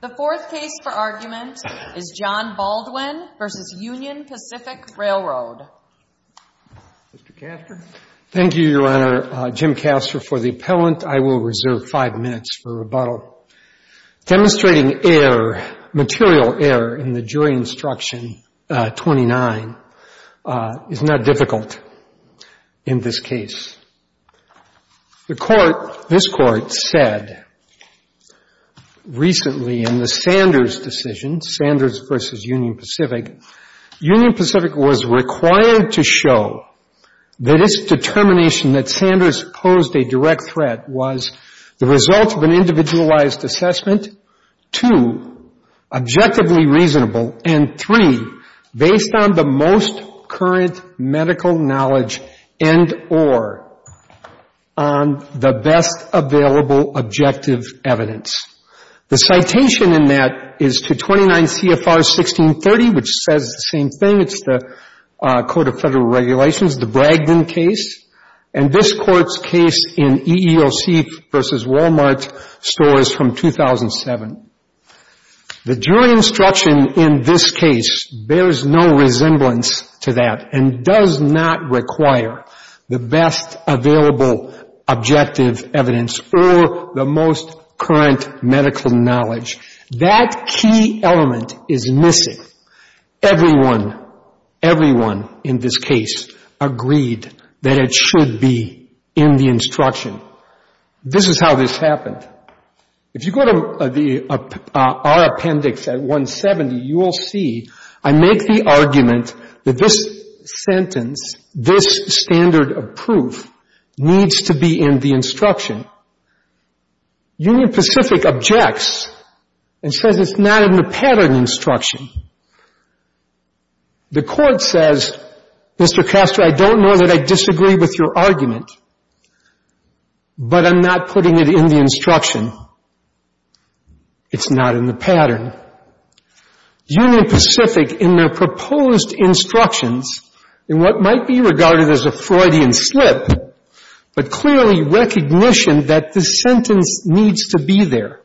The fourth case for argument is John Baldwin v. Union Pacific Railroad. Mr. Castor? Thank you, Your Honor. Jim Castor for the appellant. I will reserve five minutes for rebuttal. Demonstrating error, material error, in the jury instruction 29 is not difficult in this case. The court, this court, said recently in the Sanders decision, Sanders v. Union Pacific, Union Pacific was required to show that its determination that Sanders posed a direct threat was the result of an individualized assessment, two, objectively reasonable, and three, based on the most current medical knowledge and or on the best available objective evidence. The citation in that is to 29 CFR 1630, which says the same thing. It's the Code of Federal Regulations, the Bragdon case, and this court's case in EEOC v. Walmart stores from 2007. The jury instruction in this case bears no resemblance to that and does not require the best available objective evidence or the most current medical knowledge. That key element is missing. Everyone, everyone in this case agreed that it should be in the instruction. This is how this happened. If you go to our appendix at 170, you will see I make the argument that this sentence, this standard of proof needs to be in the instruction. Union Pacific objects and says it's not in the pattern instruction. The court says, Mr. Castro, I don't know that I disagree with your argument, but I'm not putting it in the instruction. It's not in the pattern. Union Pacific, in their proposed instructions, in what might be regarded as a Freudian slip, but clearly recognition that this sentence needs to be there,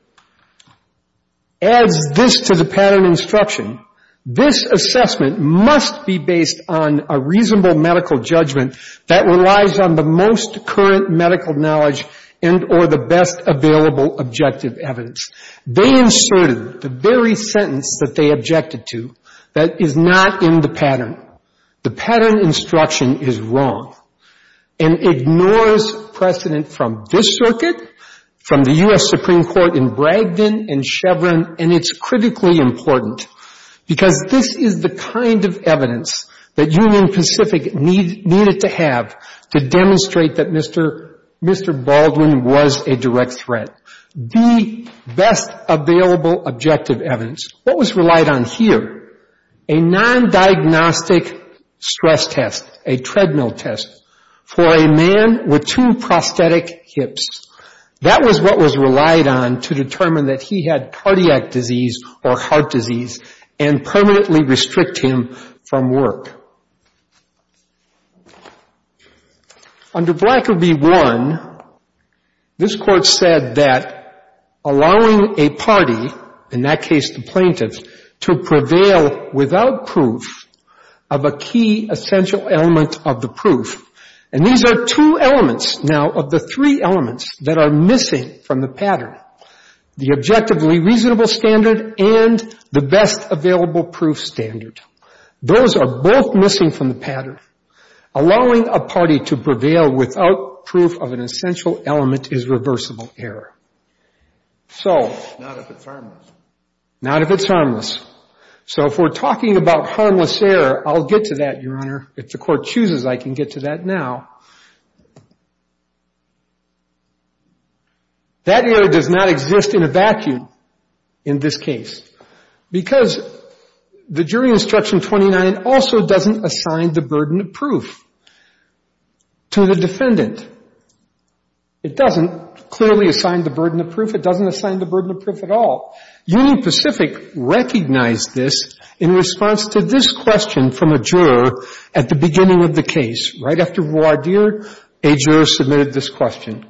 adds this to the pattern instruction. This assessment must be based on a reasonable medical judgment that relies on the most current medical knowledge and or the best available objective evidence. They inserted the very sentence that they objected to that is not in the pattern. The pattern instruction is wrong and ignores precedent from this circuit, from the U.S. Supreme Court in Bragdon and Chevron, and it's critically important because this is the kind of evidence that Union Pacific needed to have to demonstrate that Mr. Baldwin was a direct threat. The best available objective evidence, what was relied on here, a non-diagnostic stress test, a treadmill test, for a man with two prosthetic hips. That was what was relied on to determine that he had cardiac disease or heart disease and permanently restrict him from work. Under Blanker v. Warren, this court said that allowing a party, in that case the plaintiffs, to prevail without proof of a key essential element of the proof. And these are two elements now of the three elements that are missing from the pattern, the objectively reasonable standard and the best available proof standard. Those are both missing from the pattern. Allowing a party to prevail without proof of an essential element is reversible error. So. Not if it's harmless. Not if it's harmless. So if we're talking about harmless error, I'll get to that, Your Honor. If the court chooses, I can get to that now. That error does not exist in a vacuum in this case because the jury instruction 29 also doesn't assign the burden of proof to the defendant. It doesn't clearly assign the burden of proof. It doesn't assign the burden of proof at all. Union Pacific recognized this in response to this question from a juror at the beginning of the case. Right after voir dire, a juror submitted this question.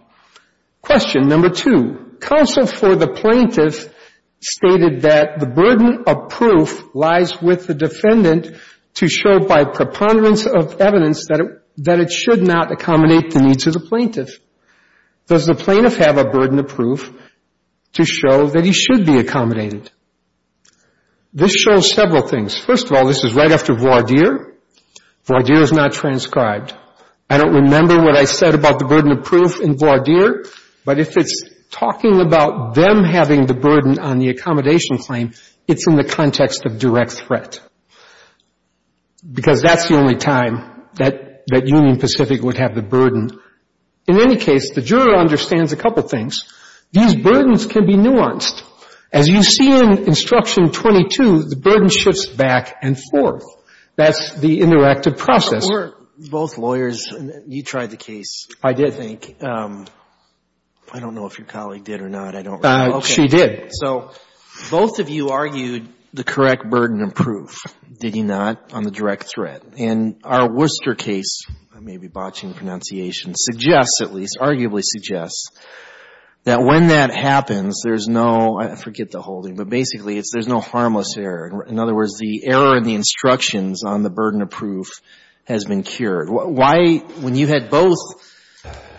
Question number two. Counsel for the plaintiff stated that the burden of proof lies with the defendant to show by preponderance of evidence that it should not accommodate the needs of the plaintiff. Does the plaintiff have a burden of proof to show that he should be accommodated? This shows several things. First of all, this is right after voir dire. Voir dire is not transcribed. I don't remember what I said about the burden of proof in voir dire, but if it's talking about them having the burden on the accommodation claim, it's in the context of direct threat. Because that's the only time that Union Pacific would have the burden. In any case, the juror understands a couple things. These burdens can be nuanced. As you see in instruction 22, the burden shifts back and forth. That's the interactive process. Both lawyers, you tried the case, I think. I don't know if your colleague did or not. I don't remember. She did. So both of you argued the correct burden of proof, did you not, on the direct threat. And our Worcester case, I may be botching pronunciation, suggests at least, arguably suggests, that when that happens, there's no, I forget the holding, but basically it's there's no harmless error. In other words, the error in the instructions on the burden of proof has been cured. Why, when you had both,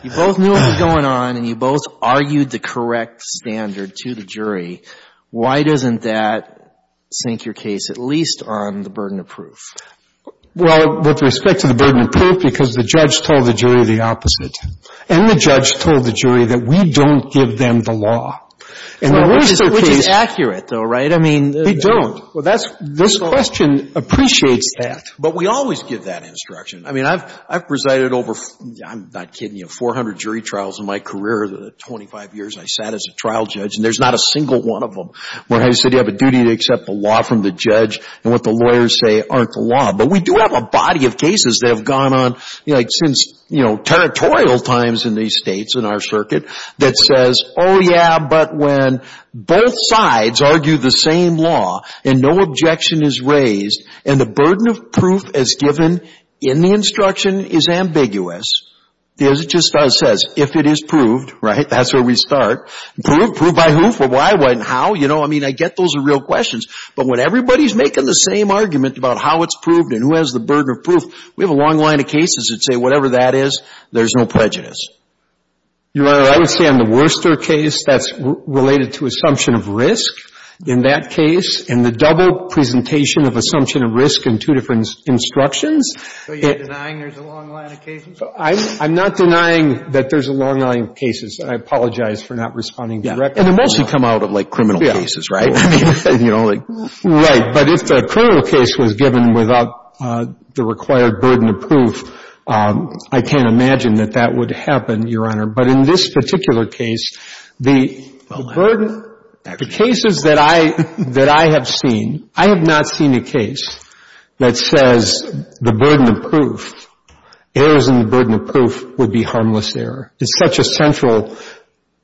you both knew what was going on and you both argued the correct standard to the jury, why doesn't that sink your case at least on the burden of proof? Well, with respect to the burden of proof, because the judge told the jury the opposite. And the judge told the jury that we don't give them the law. Which is accurate, though, right? I mean. They don't. This question appreciates that. But we always give that instruction. I mean, I've presided over, I'm not kidding you, 400 jury trials in my career, 25 years I sat as a trial judge, and there's not a single one of them where I said you have a duty to accept the law from the judge and what the lawyers say aren't the law. But we do have a body of cases that have gone on, you know, like since, you know, territorial times in these states, in our circuit, that says, oh, yeah, but when both sides argue the same law and no objection is raised and the burden of proof as given in the instruction is ambiguous, as it just says, if it is proved, right? That's where we start. Proved? Proved by who? For why, what, and how? You know, I mean, I get those are real questions. But when everybody's making the same argument about how it's proved and who has the burden of proof, we have a long line of cases that say whatever that is, there's no prejudice. Your Honor, I would say on the Worcester case, that's related to assumption of risk. In that case, in the double presentation of assumption of risk in two different instructions. So you're denying there's a long line of cases? I'm not denying that there's a long line of cases. I apologize for not responding directly. Yeah. And they mostly come out of, like, criminal cases, right? Yeah. I mean, you know, like. Right. But if a criminal case was given without the required burden of proof, I can't imagine that that would happen, Your Honor. But in this particular case, the burden. The cases that I have seen, I have not seen a case that says the burden of proof. Errors in the burden of proof would be harmless error. It's such a central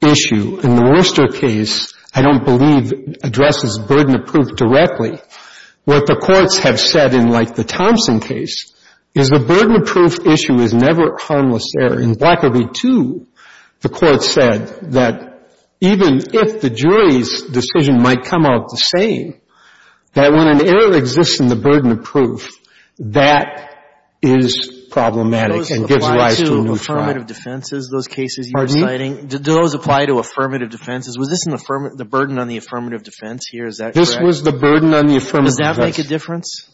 issue. In the Worcester case, I don't believe addresses burden of proof directly. What the courts have said in, like, the Thompson case, is the burden of proof issue is never harmless error. In Blacker v. Two, the court said that even if the jury's decision might come out the same, that when an error exists in the burden of proof, that is problematic and gives rise to a new trial. Do those apply to affirmative defenses, those cases you were citing? Do those apply to affirmative defenses? Was this the burden on the affirmative defense here? Is that correct? That was the burden on the affirmative defense. Does that make a difference?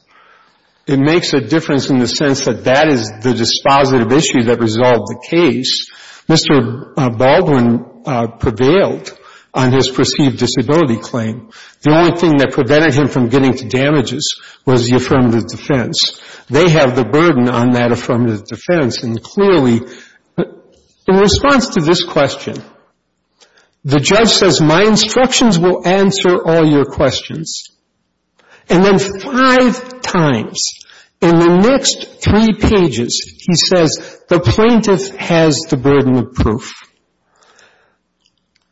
It makes a difference in the sense that that is the dispositive issue that resolved the case. Mr. Baldwin prevailed on his perceived disability claim. The only thing that prevented him from getting to damages was the affirmative defense. They have the burden on that affirmative defense, and clearly, in response to this question, the judge says, my instructions will answer all your questions. And then five times in the next three pages, he says, the plaintiff has the burden of proof.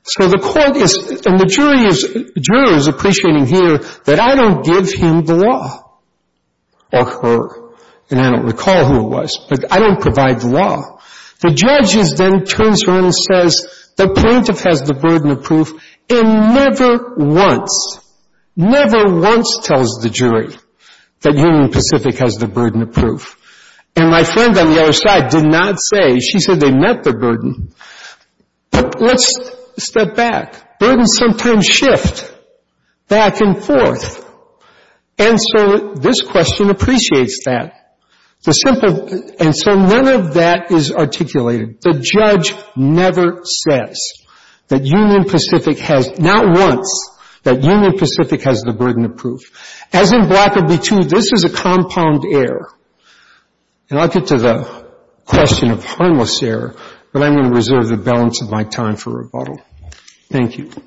So the court is, and the jury is, jury is appreciating here that I don't give him the law, or her, and I don't recall who it was, but I don't provide the law. The judge then turns around and says, the plaintiff has the burden of proof, and never once, never once tells the jury that Union Pacific has the burden of proof. And my friend on the other side did not say, she said they met the burden. But let's step back. Burdens sometimes shift back and forth. And so this question appreciates that. The simple, and so none of that is articulated. The judge never says that Union Pacific has, not once, that Union Pacific has the burden of proof. As in Block of B-2, this is a compound error. And I'll get to the question of harmless error, but I'm going to reserve the balance of my time for rebuttal. Thank you. Back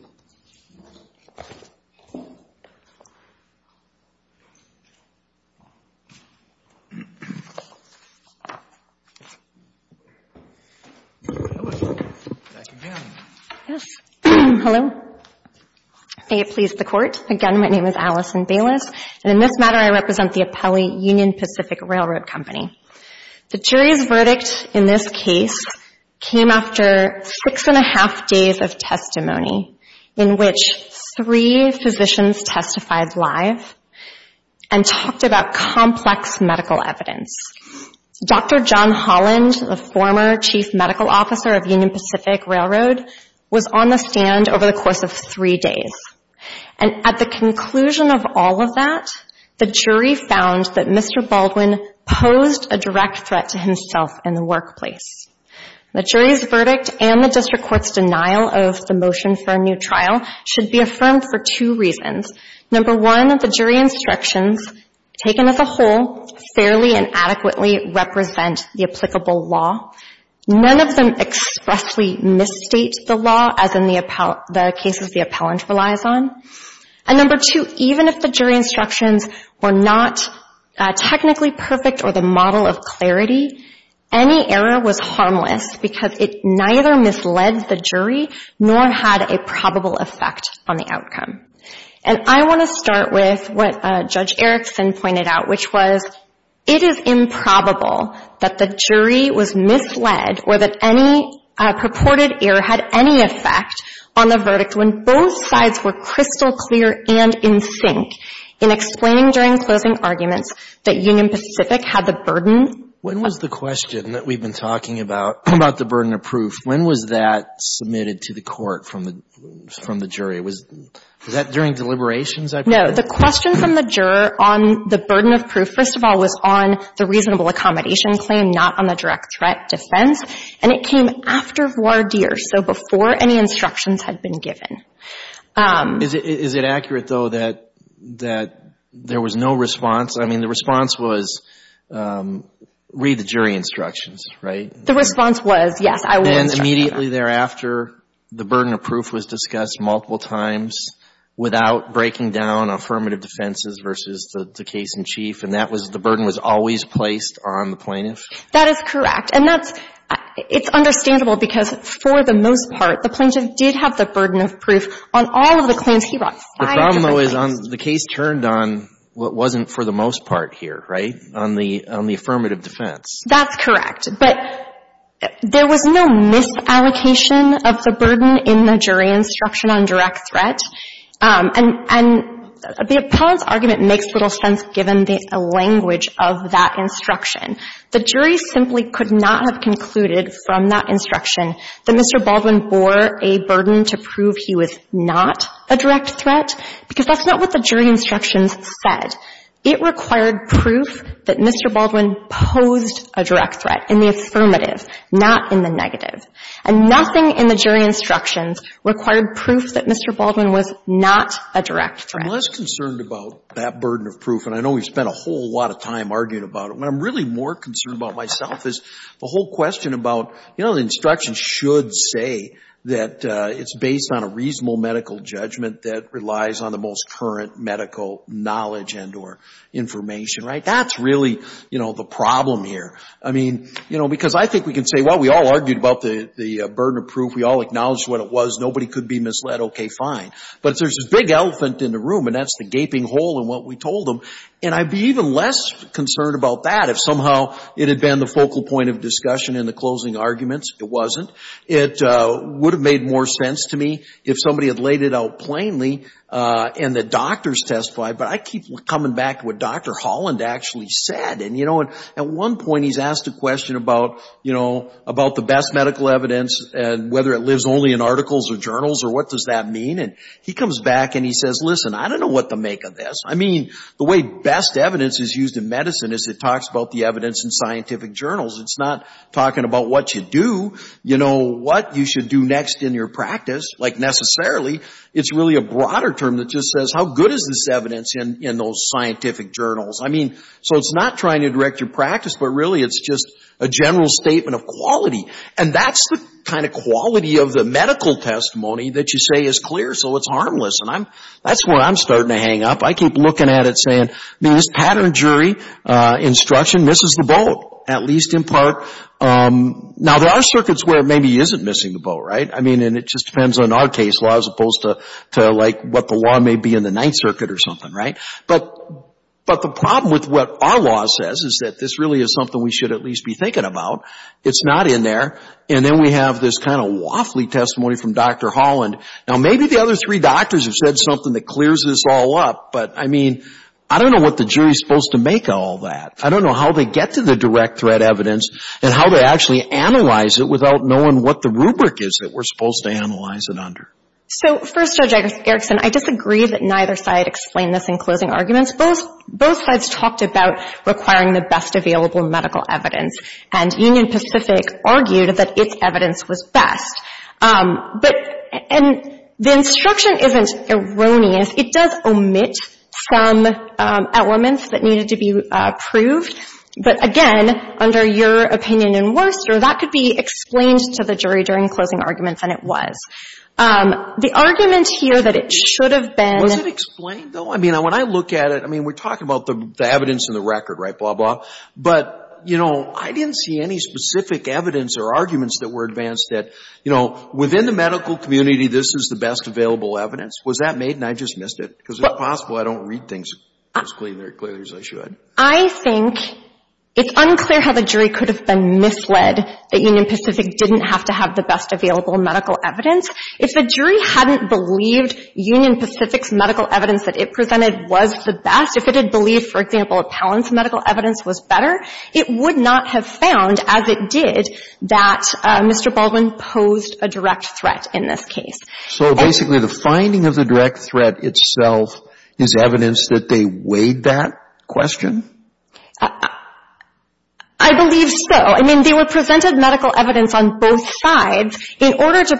again. Yes. Hello. May it please the Court. Again, my name is Allison Bayless, and in this matter, I represent the appellee Union Pacific Railroad Company. The jury's verdict in this case came after six and a half days of testimony. In which three physicians testified live and talked about complex medical evidence. Dr. John Holland, the former chief medical officer of Union Pacific Railroad, was on the stand over the course of three days. And at the conclusion of all of that, the jury found that Mr. Baldwin posed a direct threat to himself in the workplace. The jury's verdict and the district court's denial of the motion for a new trial should be affirmed for two reasons. Number one, the jury instructions, taken as a whole, fairly and adequately represent the applicable law. None of them expressly misstate the law, as in the cases the appellant relies on. And number two, even if the jury instructions were not technically perfect or the model of clarity, any error was harmless because it neither misled the jury nor had a probable effect on the outcome. And I want to start with what Judge Erickson pointed out, which was it is improbable that the jury was misled or that any purported error had any effect on the verdict when both sides were crystal clear and in sync in explaining during closing arguments that Union Pacific had the burden of proof. When was the question that we've been talking about, about the burden of proof, when was that submitted to the court from the jury? Was that during deliberations? No. The question from the juror on the burden of proof, first of all, was on the reasonable accommodation claim, not on the direct threat defense. And it came after voir dire, so before any instructions had been given. Is it accurate, though, that there was no response? I mean, the response was, read the jury instructions, right? The response was, yes, I will instruct. And immediately thereafter, the burden of proof was discussed multiple times without breaking down affirmative defenses versus the case in chief, and that was the burden was always placed on the plaintiff? That is correct. And it's understandable because for the most part, the plaintiff did have the burden of proof on all of the claims he brought. The problem, though, is the case turned on what wasn't for the most part here, right, on the affirmative defense. That's correct. But there was no misallocation of the burden in the jury instruction on direct threat. And the appellant's argument makes little sense given the language of that instruction. The jury simply could not have concluded from that instruction that Mr. Baldwin bore a burden to prove he was not a direct threat because that's not what the jury instructions said. It required proof that Mr. Baldwin posed a direct threat in the affirmative, not in the negative. And nothing in the jury instructions required proof that Mr. Baldwin was not a direct threat. I'm less concerned about that burden of proof, and I know we spent a whole lot of time arguing about it. What I'm really more concerned about myself is the whole question about, you know, the instructions should say that it's based on a reasonable medical judgment that relies on the most current medical knowledge and or information, right? That's really, you know, the problem here. I mean, you know, because I think we can say, well, we all argued about the burden of proof. We all acknowledged what it was. Nobody could be misled. Okay, fine. But there's this big elephant in the room, and that's the gaping hole in what we told them. And I'd be even less concerned about that if somehow it had been the focal point of discussion in the closing arguments. It wasn't. It would have made more sense to me if somebody had laid it out plainly and the doctors testified. But I keep coming back to what Dr. Holland actually said. And, you know, at one point he's asked a question about, you know, about the best medical evidence and whether it lives only in articles or journals or what does that mean. And he comes back and he says, listen, I don't know what to make of this. I mean, the way best evidence is used in medicine is it talks about the evidence in scientific journals. It's not talking about what you do, you know, what you should do next in your practice, like necessarily. It's really a broader term that just says how good is this evidence in those scientific journals. I mean, so it's not trying to direct your practice, but really it's just a general statement of quality. And that's the kind of quality of the medical testimony that you say is clear so it's harmless. And that's where I'm starting to hang up. I keep looking at it saying, I mean, this pattern jury instruction misses the boat, at least in part. Now, there are circuits where it maybe isn't missing the boat, right? I mean, and it just depends on our case law as opposed to, like, what the law may be in the Ninth Circuit or something, right? But the problem with what our law says is that this really is something we should at least be thinking about. It's not in there. And then we have this kind of waffly testimony from Dr. Holland. Now, maybe the other three doctors have said something that clears this all up, but, I mean, I don't know what the jury is supposed to make of all that. I don't know how they get to the direct threat evidence and how they actually analyze it without knowing what the rubric is that we're supposed to analyze it under. So, first, Judge Erickson, I disagree that neither side explained this in closing arguments. Both sides talked about requiring the best available medical evidence. And Union Pacific argued that its evidence was best. But the instruction isn't erroneous. It does omit some elements that needed to be proved. But, again, under your opinion in Worcester, that could be explained to the jury during closing arguments, and it was. The argument here that it should have been — Was it explained, though? I mean, when I look at it, I mean, we're talking about the evidence in the record, right, blah, blah. But, you know, I didn't see any specific evidence or arguments that were advanced that, you know, within the medical community, this is the best available evidence. Was that made? And I just missed it. Because if possible, I don't read things as clearly as I should. I think it's unclear how the jury could have been misled that Union Pacific didn't have to have the best available medical evidence. If the jury hadn't believed Union Pacific's medical evidence that it presented was the best, if it had believed, for example, Appellant's medical evidence was better, it would not have found, as it did, that Mr. Baldwin posed a direct threat in this case. So basically the finding of the direct threat itself is evidence that they weighed that question? I believe so. I mean, they were presented medical evidence on both sides in order to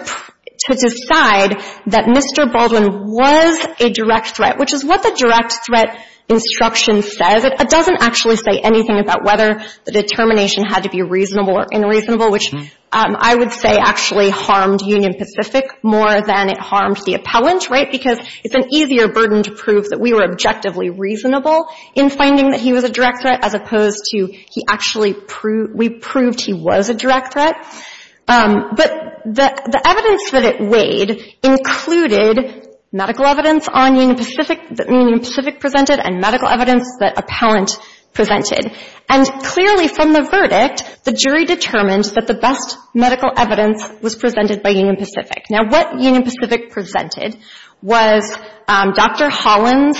decide that Mr. Baldwin was a direct threat, which is what the direct threat instruction says. It doesn't actually say anything about whether the determination had to be reasonable or unreasonable, which I would say actually harmed Union Pacific more than it harmed the Appellant, right? Because it's an easier burden to prove that we were objectively reasonable in finding that he was a direct threat as opposed to he actually – we proved he was a direct threat. But the evidence that it weighed included medical evidence on Union Pacific – that Appellant presented. And clearly from the verdict, the jury determined that the best medical evidence was presented by Union Pacific. Now, what Union Pacific presented was Dr. Holland's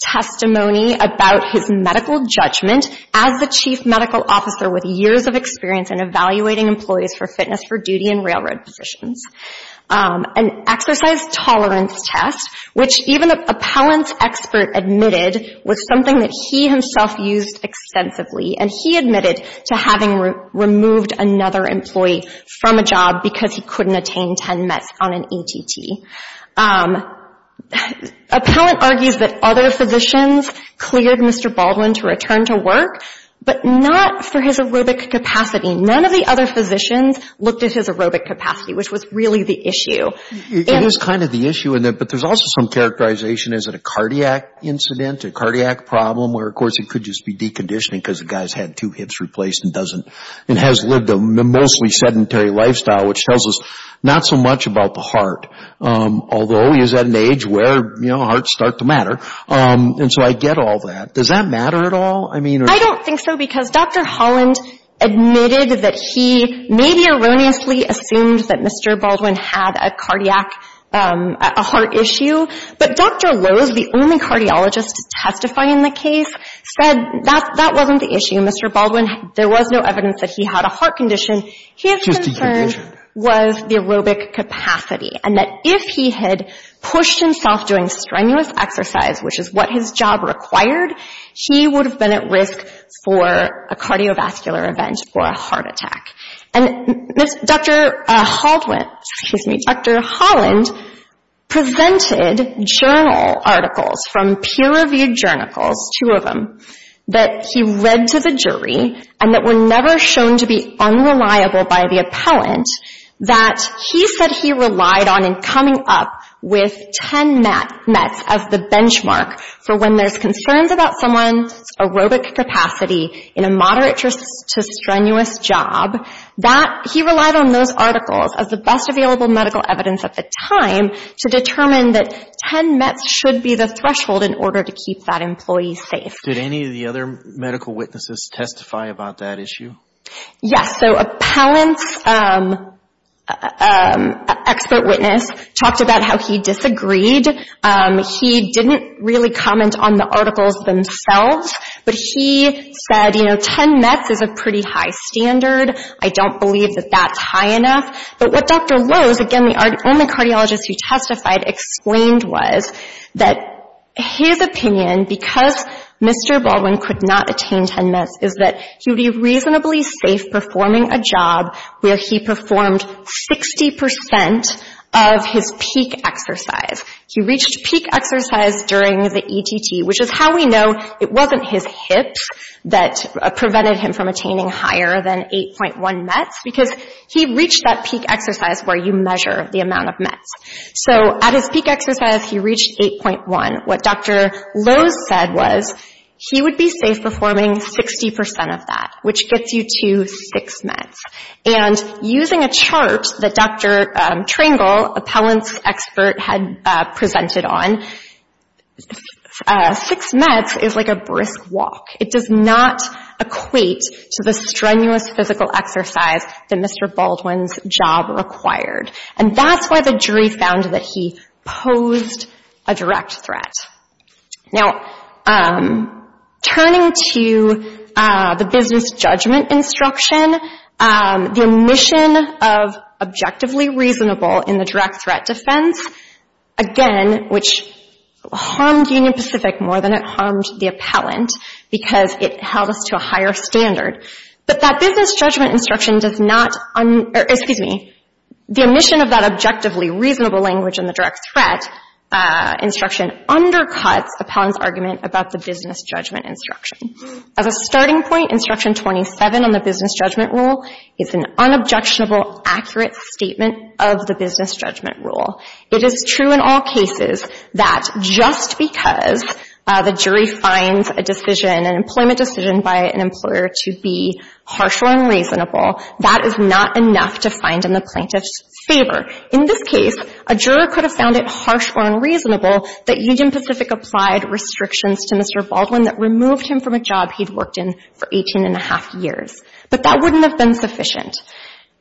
testimony about his medical judgment as the chief medical officer with years of experience in evaluating employees for fitness for duty and railroad positions, an exercise tolerance test, which even Appellant's expert admitted was something that he himself used extensively. And he admitted to having removed another employee from a job because he couldn't attain 10 METs on an ATT. Appellant argues that other physicians cleared Mr. Baldwin to return to work, but not for his aerobic capacity. None of the other physicians looked at his aerobic capacity, which was really the issue. It is kind of the issue, but there's also some characterization. Is it a cardiac incident, a cardiac problem, where of course it could just be deconditioning because the guy's had two hips replaced and doesn't – and has lived a mostly sedentary lifestyle, which tells us not so much about the heart, although he is at an age where hearts start to matter. And so I get all that. Does that matter at all? I mean – I don't think so because Dr. Holland admitted that he maybe erroneously assumed that Mr. Baldwin had a cardiac – a heart issue. But Dr. Lowe's, the only cardiologist testifying the case, said that that wasn't the issue. Mr. Baldwin, there was no evidence that he had a heart condition. His concern was the aerobic capacity and that if he had pushed himself doing strenuous exercise, which is what his job required, he would have been at risk for a cardiovascular event or a heart attack. And Dr. Holland presented journal articles from peer-reviewed journals, two of them, that he read to the jury and that were never shown to be unreliable by the appellant, that he said he relied on in coming up with 10 METs as the benchmark for when there's concerns about someone's aerobic capacity in a moderate to strenuous job, that he relied on those articles as the best available medical evidence at the time to determine that 10 METs should be the threshold in order to keep that employee safe. Did any of the other medical witnesses testify about that issue? Yes. So, appellant's expert witness talked about how he disagreed. He didn't really comment on the articles themselves, but he said, you know, 10 METs is a pretty high standard. I don't believe that that's high enough. But what Dr. Lowe's, again, the only cardiologist who testified, explained was that his opinion, because Mr. Baldwin could not attain 10 METs, is that he would be reasonably safe performing a job where he performed 60% of his peak exercise. He reached peak exercise during the ETT, which is how we know it wasn't his hips that prevented him from attaining higher than 8.1 METs, because he reached that peak exercise where you measure the amount of METs. So, at his peak exercise, he reached 8.1. What Dr. Lowe's said was he would be safe performing 60% of that, which gets you to 6 METs. And using a chart that Dr. Trangle, appellant's expert, had presented on, 6 METs is like a brisk walk. It does not equate to the strenuous physical exercise that Mr. Baldwin's job required. And that's why the jury found that he posed a direct threat. Now, turning to the business judgment instruction, the omission of objectively reasonable in the direct threat defense, again, which harmed Union Pacific more than it harmed the appellant, because it held us to a higher standard. But that business judgment instruction does not, excuse me, the omission of that objectively reasonable language in the direct threat instruction undercuts the appellant's argument about the business judgment instruction. As a starting point, Instruction 27 on the business judgment rule is an unobjectionable, accurate statement of the business judgment rule. It is true in all cases that just because the jury finds a decision, an employment decision, by an employer to be harsh or unreasonable, that is not enough to find in the plaintiff's In this case, a juror could have found it harsh or unreasonable that Union Pacific applied restrictions to Mr. Baldwin that removed him from a job he'd worked in for 18 and a half years. But that wouldn't have been sufficient.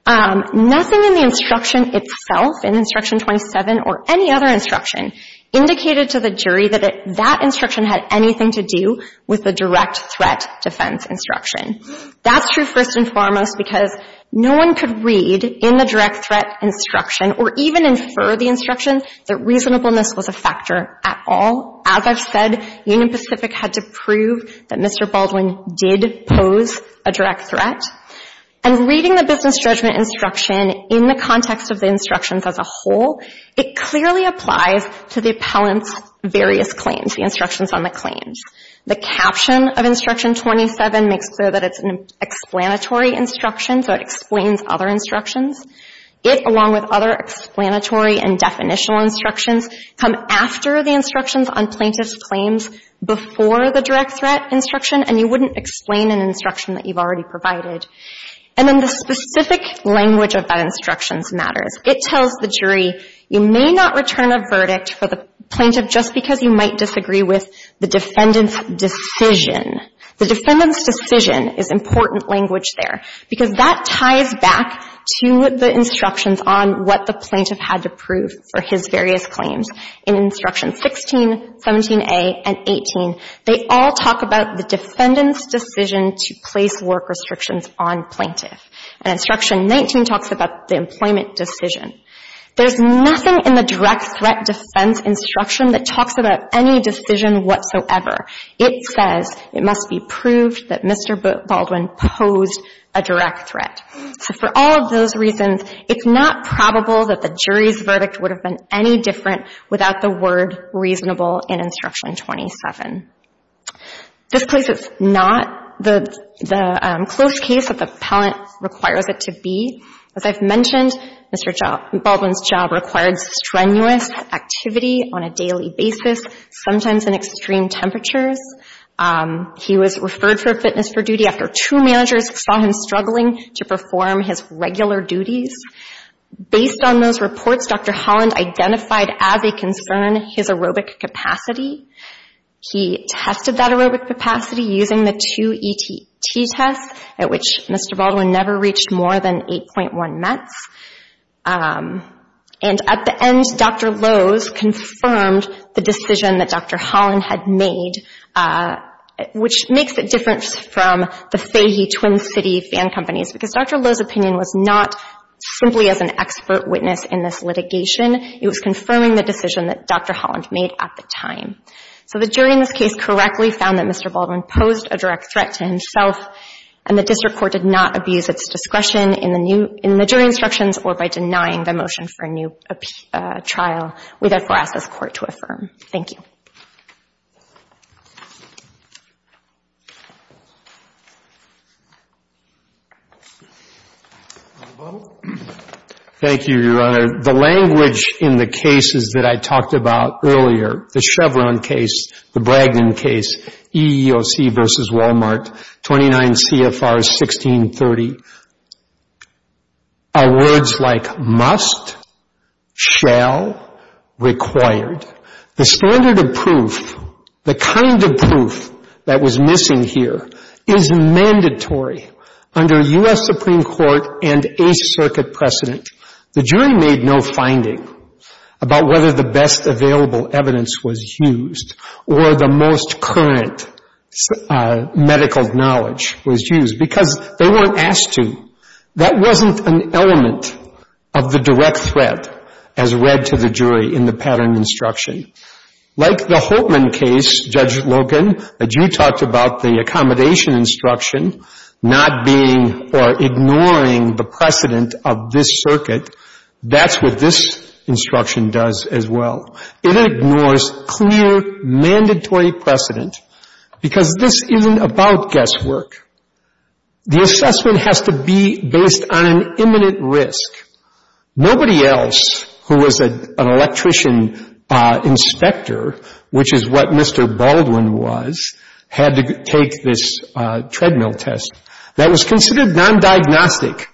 Nothing in the instruction itself, in Instruction 27 or any other instruction, indicated to the jury that that instruction had anything to do with the direct threat defense instruction. That's true first and foremost because no one could read in the direct threat instruction or even infer the instruction that reasonableness was a factor at all. As I've said, Union Pacific had to prove that Mr. Baldwin did pose a direct threat. And reading the business judgment instruction in the context of the instructions as a whole, it clearly applies to the appellant's various claims, the instructions on the claims. The caption of Instruction 27 makes clear that it's an explanatory instruction, so it explains other instructions. It, along with other explanatory and definitional instructions, come after the instructions on plaintiff's claims before the direct threat instruction, and you wouldn't explain an instruction that you've already provided. And then the specific language of that instruction matters. It tells the jury you may not return a verdict for the plaintiff just because you might disagree with the defendant's decision. The defendant's decision is important language there because that ties back to the instructions on what the plaintiff had to prove for his various claims. In Instruction 16, 17a, and 18, they all talk about the defendant's decision to place work restrictions on plaintiff. And Instruction 19 talks about the employment decision. There's nothing in the direct threat defense instruction that talks about any decision whatsoever. It says it must be proved that Mr. Baldwin posed a direct threat. So for all of those reasons, it's not probable that the jury's verdict would have been any different without the word reasonable in Instruction 27. This case is not the close case that the appellant requires it to be. As I've mentioned, Mr. Baldwin's job required strenuous activity on a daily basis, sometimes in extreme temperatures. He was referred for fitness for duty after two managers saw him struggling to perform his regular duties. Based on those reports, Dr. Holland identified as a concern his aerobic capacity. He tested that aerobic capacity using the two ETT tests, at which Mr. Baldwin never reached more than 8.1 mets. And at the end, Dr. Lowe's confirmed the decision that Dr. Holland had made, which makes a difference from the Fahey Twin City fan companies, because Dr. Lowe's opinion was not simply as an expert witness in this litigation. It was confirming the decision that Dr. Holland made at the time. So the jury in this case correctly found that Mr. Baldwin posed a direct threat to himself, and the district court did not abuse its discretion in the jury instructions or by denying the motion for a new trial. We therefore ask this Court to affirm. Thank you. Thank you, Your Honor. The language in the cases that I talked about earlier, the Chevron case, the Bragdon case, EEOC versus Walmart, 29 CFRs, 1630, are words like must, shall, required. The standard of proof, the kind of proof that was missing here, is mandatory under U.S. Supreme Court and Eighth Circuit precedent. The jury made no finding about whether the best available evidence was used or the most current medical knowledge was used, because they weren't asked to. That wasn't an element of the direct threat as read to the jury in the pattern instruction. Like the Holtman case, Judge Logan, that you talked about, the accommodation instruction, not being or ignoring the precedent of this circuit, that's what this instruction does as well. It ignores clear mandatory precedent, because this isn't about guesswork. The assessment has to be based on an imminent risk. Nobody else who was an electrician inspector, which is what Mr. Baldwin was, had to take this treadmill test. That was considered non-diagnostic.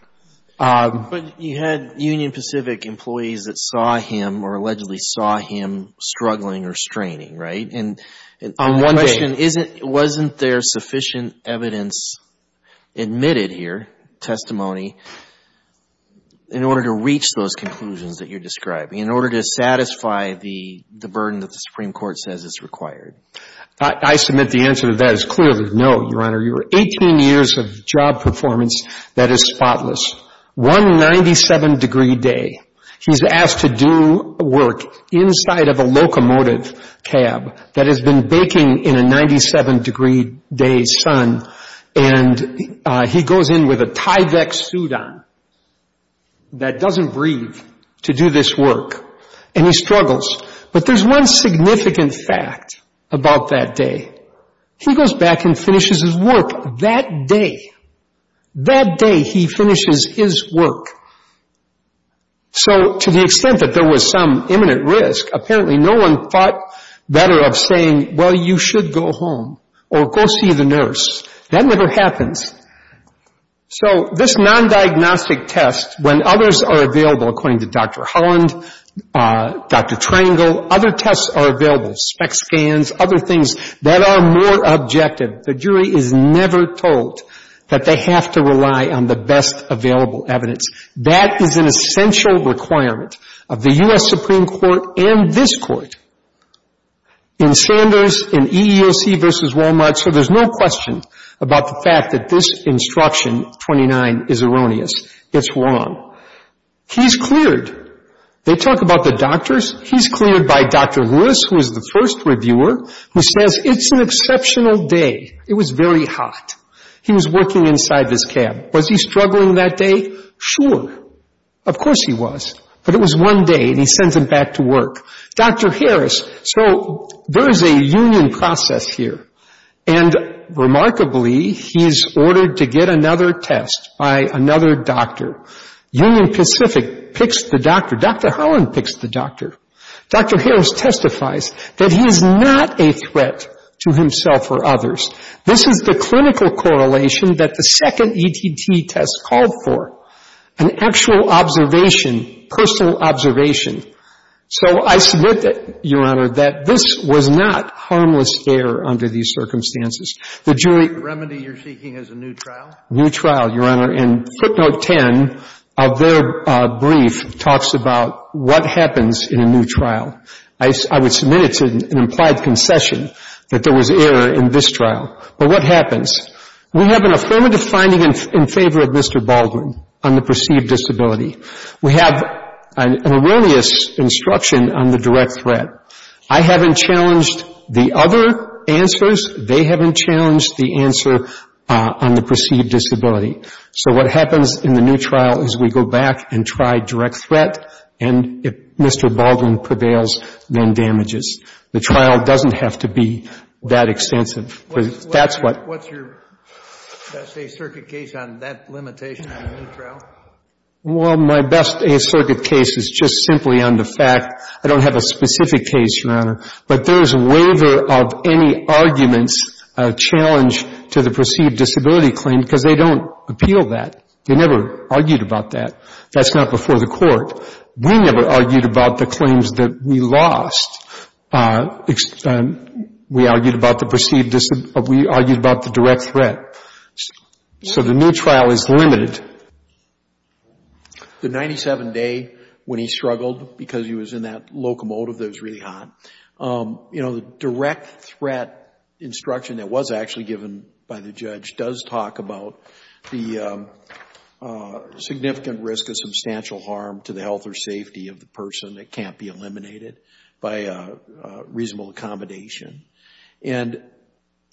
But you had Union Pacific employees that saw him or allegedly saw him struggling or straining, right? On one day. And wasn't there sufficient evidence admitted here, testimony, in order to reach those conclusions that you're describing, in order to satisfy the burden that the Supreme Court says is required? I submit the answer to that is clearly no, Your Honor. You were 18 years of job performance that is spotless. One 97-degree day, he's asked to do work inside of a locomotive cab that has been baking in a 97-degree day sun, and he goes in with a Tyvek suit on that doesn't breathe to do this work, and he struggles. But there's one significant fact about that day. He goes back and finishes his work that day. That day he finishes his work. So to the extent that there was some imminent risk, apparently no one thought better of saying, well, you should go home or go see the nurse. That never happens. So this non-diagnostic test, when others are available, according to Dr. Holland, Dr. Triangle, other tests are available, spec scans, other things that are more objective. The jury is never told that they have to rely on the best available evidence. That is an essential requirement of the U.S. Supreme Court and this Court. In Sanders, in EEOC v. Walmart, so there's no question about the fact that this instruction, 29, is erroneous. It's wrong. He's cleared. They talk about the doctors. He's cleared by Dr. Lewis, who is the first reviewer, who says it's an exceptional day. It was very hot. He was working inside his cab. Was he struggling that day? Sure. Of course he was. But it was one day, and he sends him back to work. Dr. Harris, so there is a union process here, and remarkably he is ordered to get another test by another doctor. Union Pacific picks the doctor. Dr. Holland picks the doctor. Dr. Harris testifies that he is not a threat to himself or others. This is the clinical correlation that the second ETT test called for, an actual observation, personal observation. So I submit, Your Honor, that this was not harmless error under these circumstances. The jury — The remedy you're seeking is a new trial? New trial, Your Honor. And footnote 10 of their brief talks about what happens in a new trial. I would submit it's an implied concession that there was error in this trial. But what happens? We have an affirmative finding in favor of Mr. Baldwin on the perceived disability. We have an erroneous instruction on the direct threat. I haven't challenged the other answers. They haven't challenged the answer on the perceived disability. So what happens in the new trial is we go back and try direct threat, and if Mr. Baldwin prevails, then damages. The trial doesn't have to be that extensive. That's what — What's your best-case-circuit case on that limitation on the new trial? Well, my best-case-circuit case is just simply on the fact. I don't have a specific case, Your Honor. But there is waiver of any arguments challenged to the perceived disability claim because they don't appeal that. They never argued about that. That's not before the court. We never argued about the claims that we lost. We argued about the perceived disability. We argued about the direct threat. So the new trial is limited. The 97-day when he struggled because he was in that locomotive that was really hot, you know, the direct threat instruction that was actually given by the judge does talk about the significant risk of substantial harm to the health or safety of the person that can't be eliminated by reasonable accommodation. And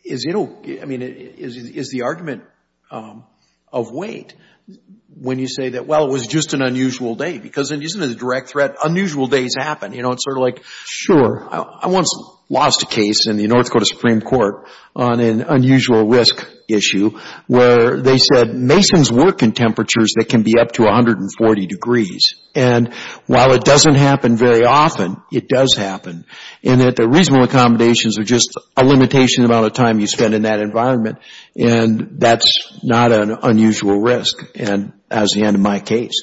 is the argument of weight when you say that, well, it was just an unusual day? Because isn't it a direct threat? Unusual days happen. You know, it's sort of like — Sure. I once lost a case in the North Dakota Supreme Court on an unusual risk issue where they said masons work in temperatures that can be up to 140 degrees. And while it doesn't happen very often, it does happen, in that the reasonable accommodations are just a limitation about the time you spend in that environment. And that's not an unusual risk, as in my case.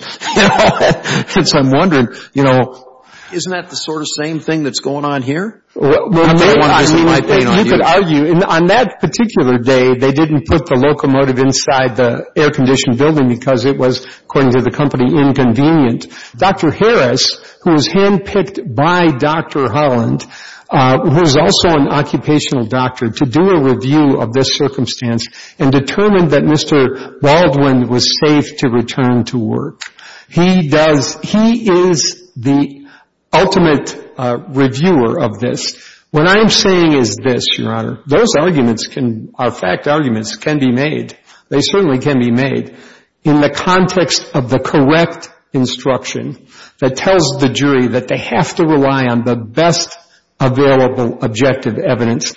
Since I'm wondering, you know. Isn't that the sort of same thing that's going on here? Well, you could argue. On that particular day, they didn't put the locomotive inside the air-conditioned building because it was, according to the company, inconvenient. Dr. Harris, who was hand-picked by Dr. Holland, who is also an occupational doctor, to do a review of this circumstance and determined that Mr. Baldwin was safe to return to work. He does — he is the ultimate reviewer of this. What I am saying is this, Your Honor. Those arguments are fact arguments, can be made. They certainly can be made. In the context of the correct instruction that tells the jury that they have to rely on the best available objective evidence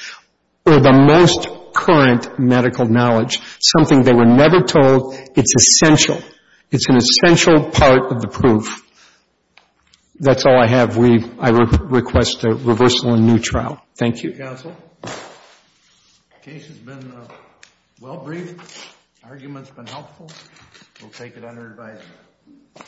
or the most current medical knowledge, something they were never told, it's essential. It's an essential part of the proof. That's all I have. I request a reversal in new trial. Thank you. Counsel. The case has been well-briefed. The argument's been helpful. We'll take it under advisement.